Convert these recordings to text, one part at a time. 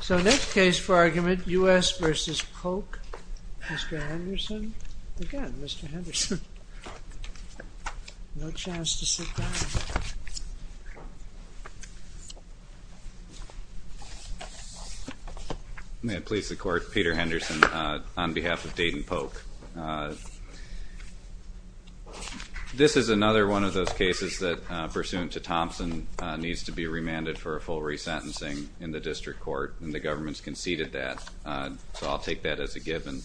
So, next case for argument, U.S. v. Polk. Mr. Henderson? Again, Mr. Henderson. No chance to sit down. May it please the Court, Peter Henderson on behalf of Dayton Polk. This is another one of those cases that, pursuant to Thompson, needs to be remanded for a full resentencing in the district court. And the government's conceded that, so I'll take that as a given.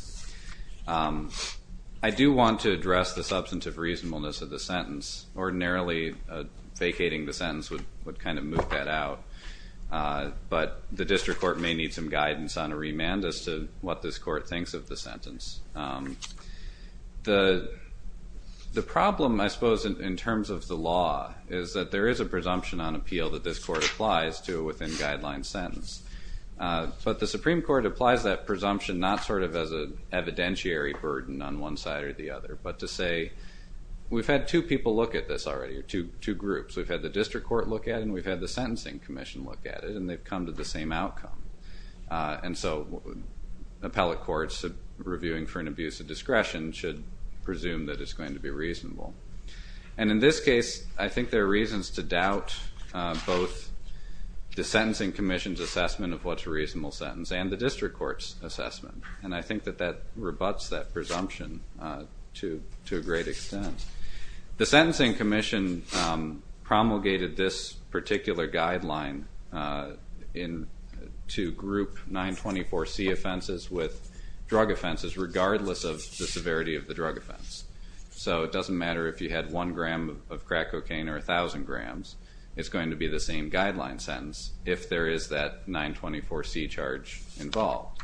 I do want to address the substantive reasonableness of the sentence. Ordinarily, vacating the sentence would kind of move that out. But the district court may need some guidance on a remand as to what this court thinks of the sentence. The problem, I suppose, in terms of the law, is that there is a presumption on appeal that this court applies to a within-guidelines sentence. But the Supreme Court applies that presumption not sort of as an evidentiary burden on one side or the other, but to say, we've had two people look at this already, or two groups. We've had the district court look at it, and we've had the sentencing commission look at it, and they've come to the same outcome. And so appellate courts reviewing for an abuse of discretion should presume that it's going to be reasonable. And in this case, I think there are reasons to doubt both the sentencing commission's assessment of what's a reasonable sentence and the district court's assessment. And I think that that rebuts that presumption to a great extent. The sentencing commission promulgated this particular guideline to group 924C offenses with drug offenses, regardless of the severity of the drug offense. So it doesn't matter if you had one gram of crack cocaine or 1,000 grams. It's going to be the same guideline sentence if there is that 924C charge involved.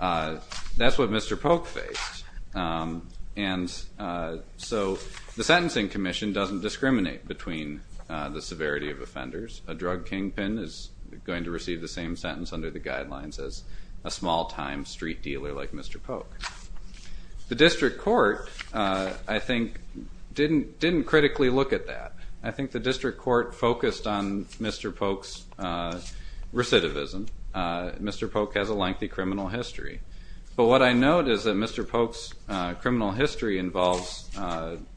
That's what Mr. Polk faced. And so the sentencing commission doesn't discriminate between the severity of offenders. A drug kingpin is going to receive the same sentence under the guidelines as a small-time street dealer like Mr. Polk. The district court, I think, didn't critically look at that. I think the district court focused on Mr. Polk's recidivism. Mr. Polk has a lengthy criminal history. But what I note is that Mr. Polk's criminal history involves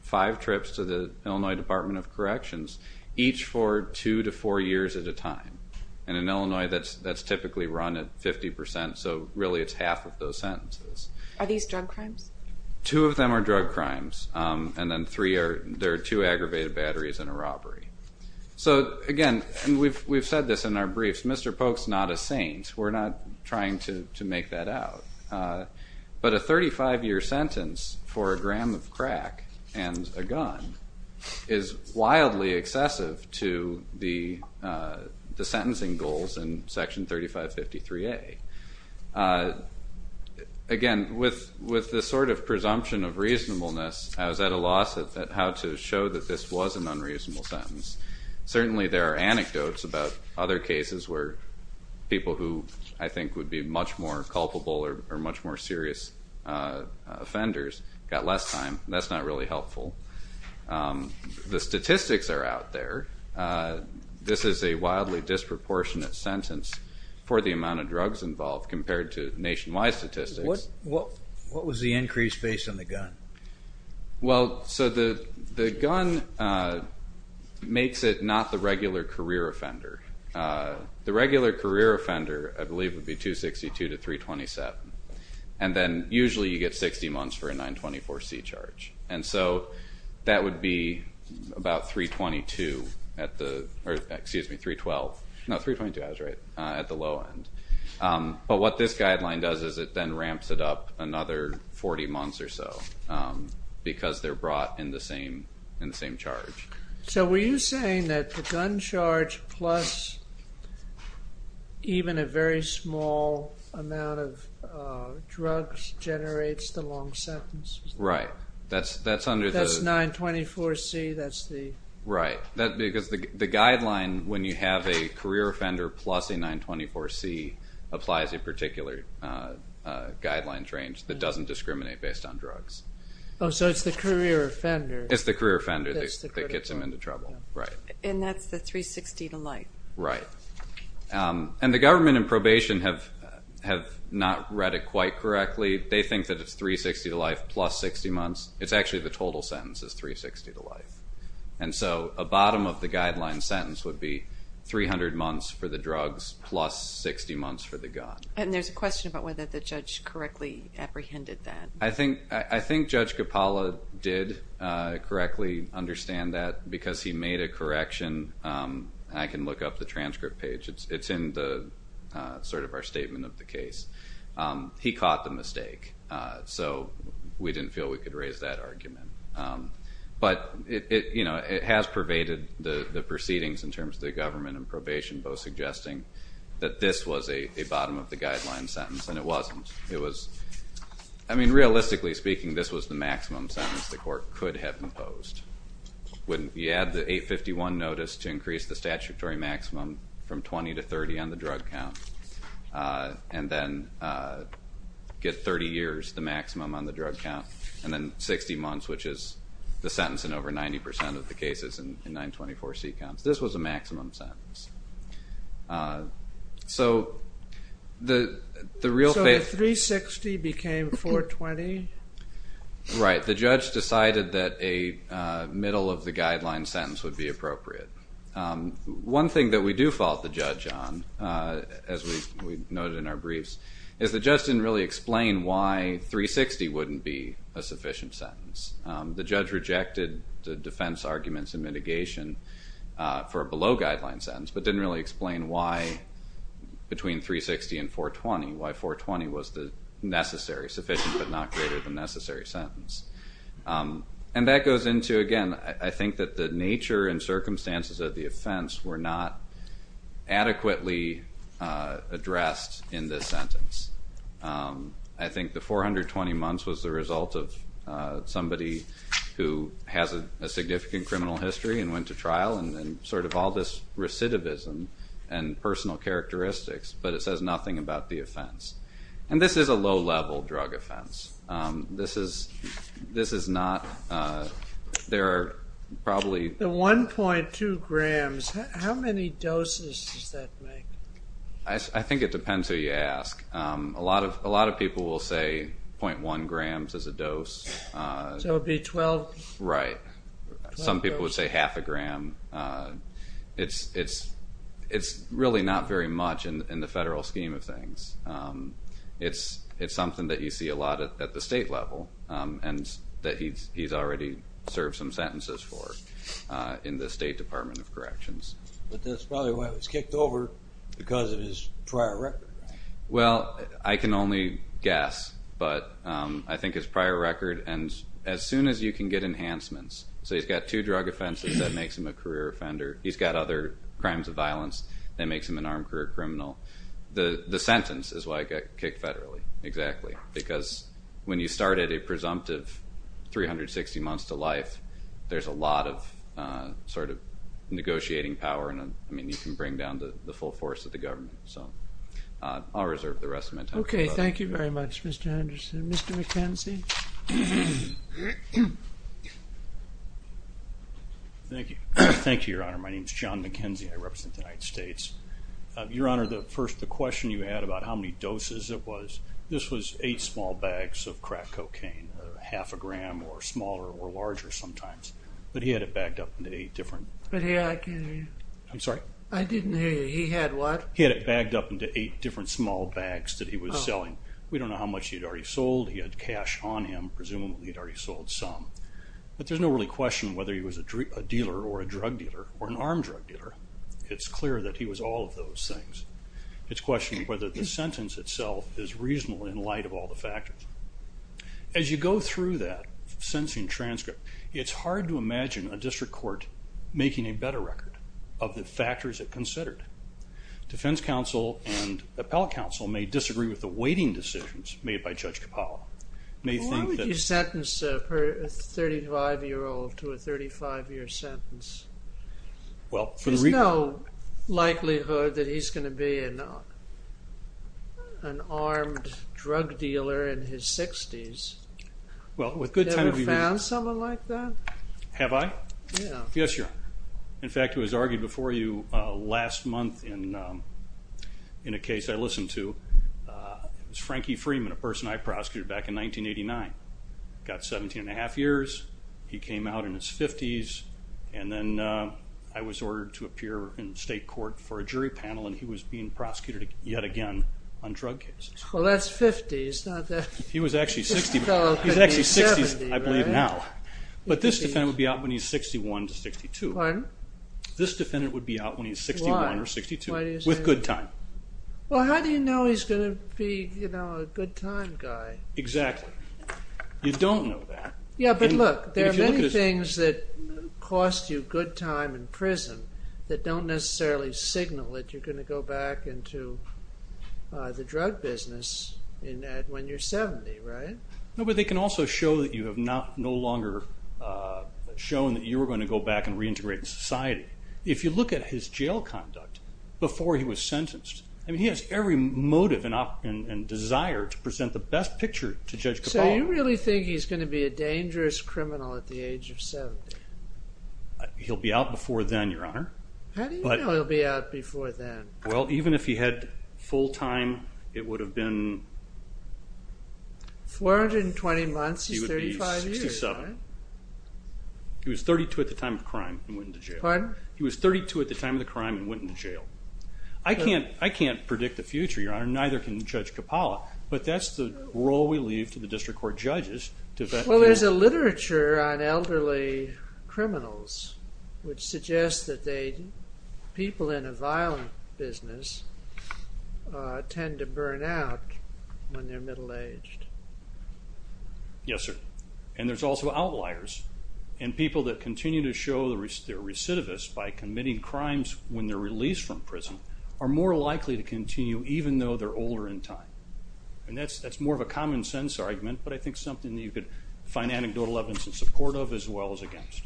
five trips to the Illinois Department of Corrections, each for two to four years at a time. And in Illinois, that's typically run at 50%, so really it's half of those sentences. Are these drug crimes? Two of them are drug crimes. And then there are two aggravated batteries and a robbery. So, again, we've said this in our briefs. Mr. Polk's not a saint. We're not trying to make that out. But a 35-year sentence for a gram of crack and a gun is wildly excessive to the sentencing goals in Section 3553A. Again, with this sort of presumption of reasonableness, I was at a loss at how to show that this was an unreasonable sentence. Certainly there are anecdotes about other cases where people who I think would be much more culpable or much more serious offenders got less time. That's not really helpful. The statistics are out there. This is a wildly disproportionate sentence for the amount of drugs involved compared to nationwide statistics. What was the increase based on the gun? Well, so the gun makes it not the regular career offender. The regular career offender, I believe, would be 262 to 327. And then usually you get 60 months for a 924C charge. And so that would be about 322 at the or, excuse me, 312. No, 322, I was right, at the low end. But what this guideline does is it then ramps it up another 40 months or so because they're brought in the same charge. So were you saying that the gun charge plus even a very small amount of drugs generates the long sentence? Right. That's 924C, that's the... Right, because the guideline when you have a career offender plus a 924C applies a particular guidelines range that doesn't discriminate based on drugs. Oh, so it's the career offender. It's the career offender that gets them into trouble, right. And that's the 360 to life. Right. And the government in probation have not read it quite correctly. They think that it's 360 to life plus 60 months. It's actually the total sentence is 360 to life. And so a bottom of the guideline sentence would be 300 months for the drugs plus 60 months for the gun. And there's a question about whether the judge correctly apprehended that. I think Judge Capalla did correctly understand that because he made a correction. I can look up the transcript page. It's in the sort of our statement of the case. He caught the mistake. So we didn't feel we could raise that argument. But, you know, it has pervaded the proceedings in terms of the government and probation, both suggesting that this was a bottom of the guideline sentence and it wasn't. It was, I mean, realistically speaking, this was the maximum sentence the court could have imposed. When you add the 851 notice to increase the statutory maximum from 20 to 30 on the drug count and then get 30 years, the maximum on the drug count, and then 60 months, which is the sentence in over 90 percent of the cases in 924C counts, this was a maximum sentence. So the 360 became 420? Right. The judge decided that a middle of the guideline sentence would be appropriate. One thing that we do fault the judge on, as we noted in our briefs, is the judge didn't really explain why 360 wouldn't be a sufficient sentence. The judge rejected the defense arguments and mitigation for a below guideline sentence, but didn't really explain why between 360 and 420, why 420 was the necessary, sufficient, but not greater than necessary sentence. And that goes into, again, I think that the nature and circumstances of the offense were not adequately addressed in this sentence. I think the 420 months was the result of somebody who has a significant criminal history and went to trial and sort of all this recidivism and personal characteristics, but it says nothing about the offense. And this is a low-level drug offense. This is not, there are probably... The 1.2 grams, how many doses does that make? I think it depends who you ask. A lot of people will say 0.1 grams is a dose. So it would be 12? Right. Some people would say half a gram. It's really not very much in the federal scheme of things. It's something that you see a lot at the state level and that he's already served some sentences for in the State Department of Corrections. But that's probably why he was kicked over because of his prior record, right? Well, I can only guess, but I think his prior record, and as soon as you can get enhancements, so he's got two drug offenses that makes him a career offender. He's got other crimes of violence that makes him an armed career criminal. The sentence is why he got kicked federally, exactly, because when you start at a presumptive 360 months to life, there's a lot of negotiating power, and you can bring down the full force of the government. So I'll reserve the rest of my time. Okay, thank you very much, Mr. Henderson. Mr. McKenzie? Thank you, Your Honor. My name is John McKenzie. I represent the United States. Your Honor, the question you had about how many doses it was, this was eight small bags of crack cocaine, half a gram or smaller or larger sometimes. But he had it bagged up into eight different... But I can't hear you. I'm sorry? I didn't hear you. He had what? He had it bagged up into eight different small bags that he was selling. We don't know how much he had already sold. He had cash on him. Presumably, he had already sold some. But there's no really question whether he was a dealer or a drug dealer or an armed drug dealer. It's clear that he was all of those things. It's a question of whether the sentence itself is reasonable in light of all the factors. As you go through that sentencing transcript, it's hard to imagine a district court making a better record of the factors it considered. Defense counsel and appellate counsel may disagree with the weighting decisions made by Judge Capallo. Why would you sentence a 35-year-old to a 35-year sentence? There's no likelihood that he's going to be an armed drug dealer in his 60s. Have you ever found someone like that? Have I? Yeah. Yes, Your Honor. In fact, it was argued before you last month in a case I listened to. It was Frankie Freeman, a person I prosecuted back in 1989. Got 17 1⁄2 years. He came out in his 50s. And then I was ordered to appear in state court for a jury panel, and he was being prosecuted yet again on drug cases. Well, that's 50. He was actually 60. He's actually 60, I believe, now. But this defendant would be out when he's 61 to 62. Pardon? This defendant would be out when he's 61 or 62 with good time. Well, how do you know he's going to be a good time guy? Exactly. You don't know that. Yeah, but look. There are many things that cost you good time in prison that don't necessarily signal that you're going to go back into the drug business when you're 70, right? No, but they can also show that you have no longer shown that you were going to go back and reintegrate in society. If you look at his jail conduct before he was sentenced, he has every motive and desire to present the best picture to Judge Cabal. So you really think he's going to be a dangerous criminal at the age of 70? He'll be out before then, Your Honor. How do you know he'll be out before then? Well, even if he had full time, it would have been... 420 months is 35 years, right? He would be 67. He was 32 at the time of crime and went into jail. Pardon? He was 32 at the time of the crime and went into jail. I can't predict the future, Your Honor, neither can Judge Cabal, but that's the role we leave to the district court judges. Well, there's a literature on elderly criminals which suggests that people in a violent business tend to burn out when they're middle-aged. Yes, sir. And there's also outliers, and people that continue to show they're recidivists by committing crimes when they're released from prison are more likely to continue even though they're older in time. And that's more of a common sense argument, but I think something that you could find anecdotal evidence in support of as well as against.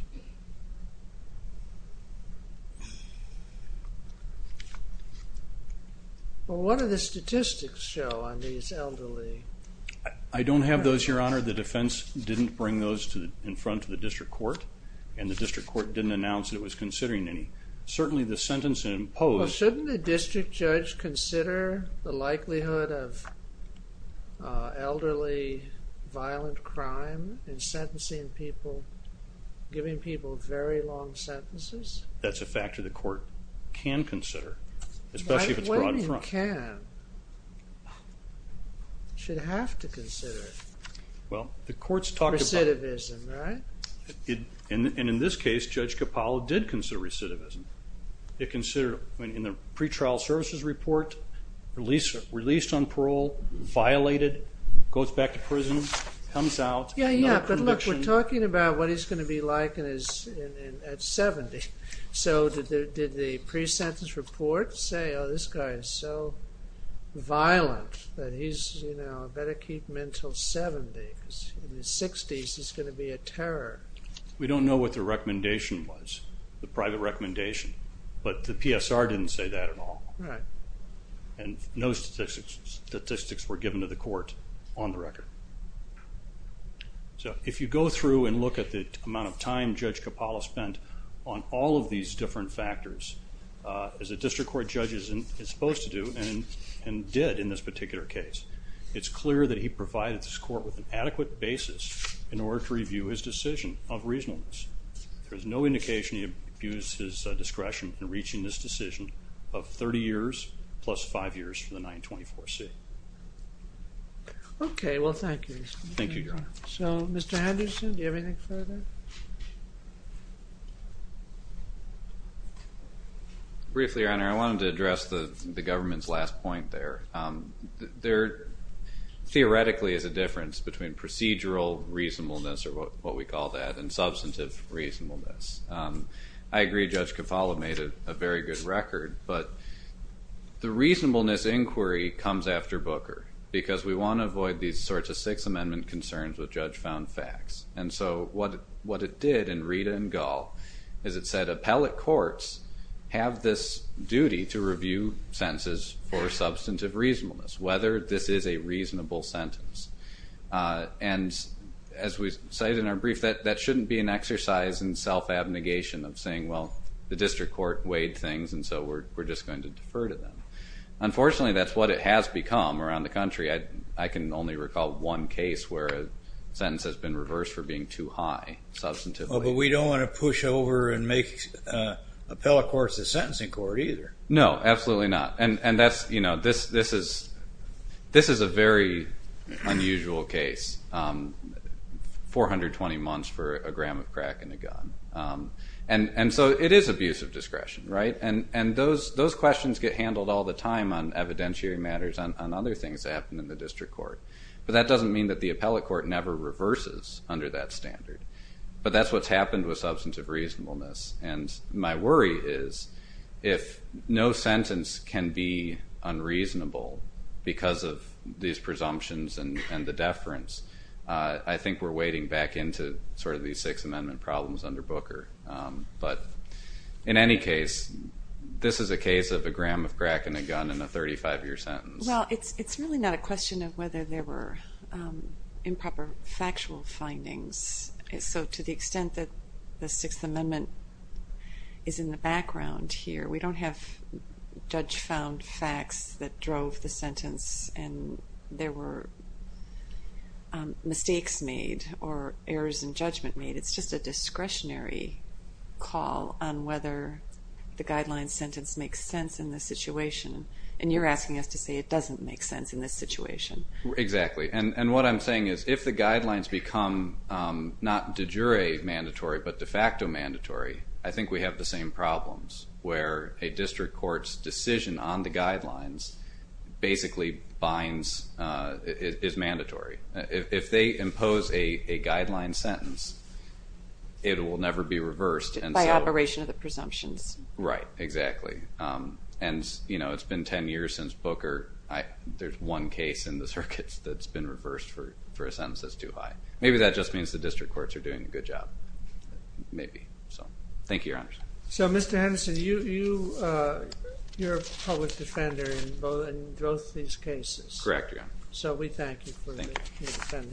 Well, what do the statistics show on these elderly? I don't have those, Your Honor. The defense didn't bring those in front to the district court, and the district court didn't announce that it was considering any. Certainly the sentence imposed... Well, shouldn't the district judge consider the likelihood of elderly violent crime in sentencing people, giving people very long sentences? That's a factor the court can consider, especially if it's brought in front. Why do you think you can? You should have to consider it. Well, the court's talking about... Recidivism, right? And in this case, Judge Capallo did consider recidivism. In the pretrial services report, released on parole, violated, goes back to prison, comes out... Yeah, yeah, but look, we're talking about what he's going to be like at 70. So did the pre-sentence report say, oh, this guy is so violent that he's, you know, better keep him until 70, because in his 60s, he's going to be a terror. We don't know what the recommendation was, the private recommendation, but the PSR didn't say that at all. Right. And no statistics were given to the court on the record. So if you go through and look at the amount of time Judge Capallo spent on all of these different factors, as a district court judge is supposed to do, and did in this particular case, it's clear that he provided this court with an adequate basis in order to review his decision of reasonableness. There is no indication he abused his discretion in reaching this decision of 30 years plus 5 years for the 924C. Okay, well, thank you. Thank you, Your Honor. So, Mr. Henderson, do you have anything further? Briefly, Your Honor, I wanted to address the government's last point there. There theoretically is a difference between procedural reasonableness, or what we call that, and substantive reasonableness. I agree Judge Capallo made a very good record, but the reasonableness inquiry comes after Booker, because we want to avoid these sorts of Sixth Amendment concerns with judge found facts. And so what it did in Rita and Gull is it said appellate courts have this duty to review sentences for substantive reasonableness, whether this is a reasonable sentence. And as we cited in our brief, that shouldn't be an exercise in self-abnegation of saying, well, the district court weighed things, and so we're just going to defer to them. Unfortunately, that's what it has become around the country. I can only recall one case where a sentence has been reversed for being too high substantively. But we don't want to push over and make appellate courts a sentencing court either. No, absolutely not. And this is a very unusual case, 420 months for a gram of crack in a gun. And so it is abuse of discretion, right? And those questions get handled all the time on evidentiary matters, on other things that happen in the district court. But that doesn't mean that the appellate court never reverses under that standard. But that's what's happened with substantive reasonableness. And my worry is if no sentence can be unreasonable because of these presumptions and the deference, I think we're wading back into sort of these Sixth Amendment problems under Booker. But in any case, this is a case of a gram of crack in a gun in a 35-year sentence. Well, it's really not a question of whether there were improper factual findings. So to the extent that the Sixth Amendment is in the background here, we don't have judge-found facts that drove the sentence and there were mistakes made or errors in judgment made. It's just a discretionary call on whether the guideline sentence makes sense in this situation. And you're asking us to say it doesn't make sense in this situation. Exactly. And what I'm saying is if the guidelines become not de jure mandatory but de facto mandatory, I think we have the same problems where a district court's decision on the guidelines basically binds, is mandatory. If they impose a guideline sentence, it will never be reversed. By operation of the presumptions. Right, exactly. And it's been 10 years since Booker. There's one case in the circuits that's been reversed for a sentence that's too high. Maybe that just means the district courts are doing a good job. Thank you, Your Honor. So, Mr. Henderson, you're a public defender in both these cases. Correct, Your Honor. So we thank you for your defense.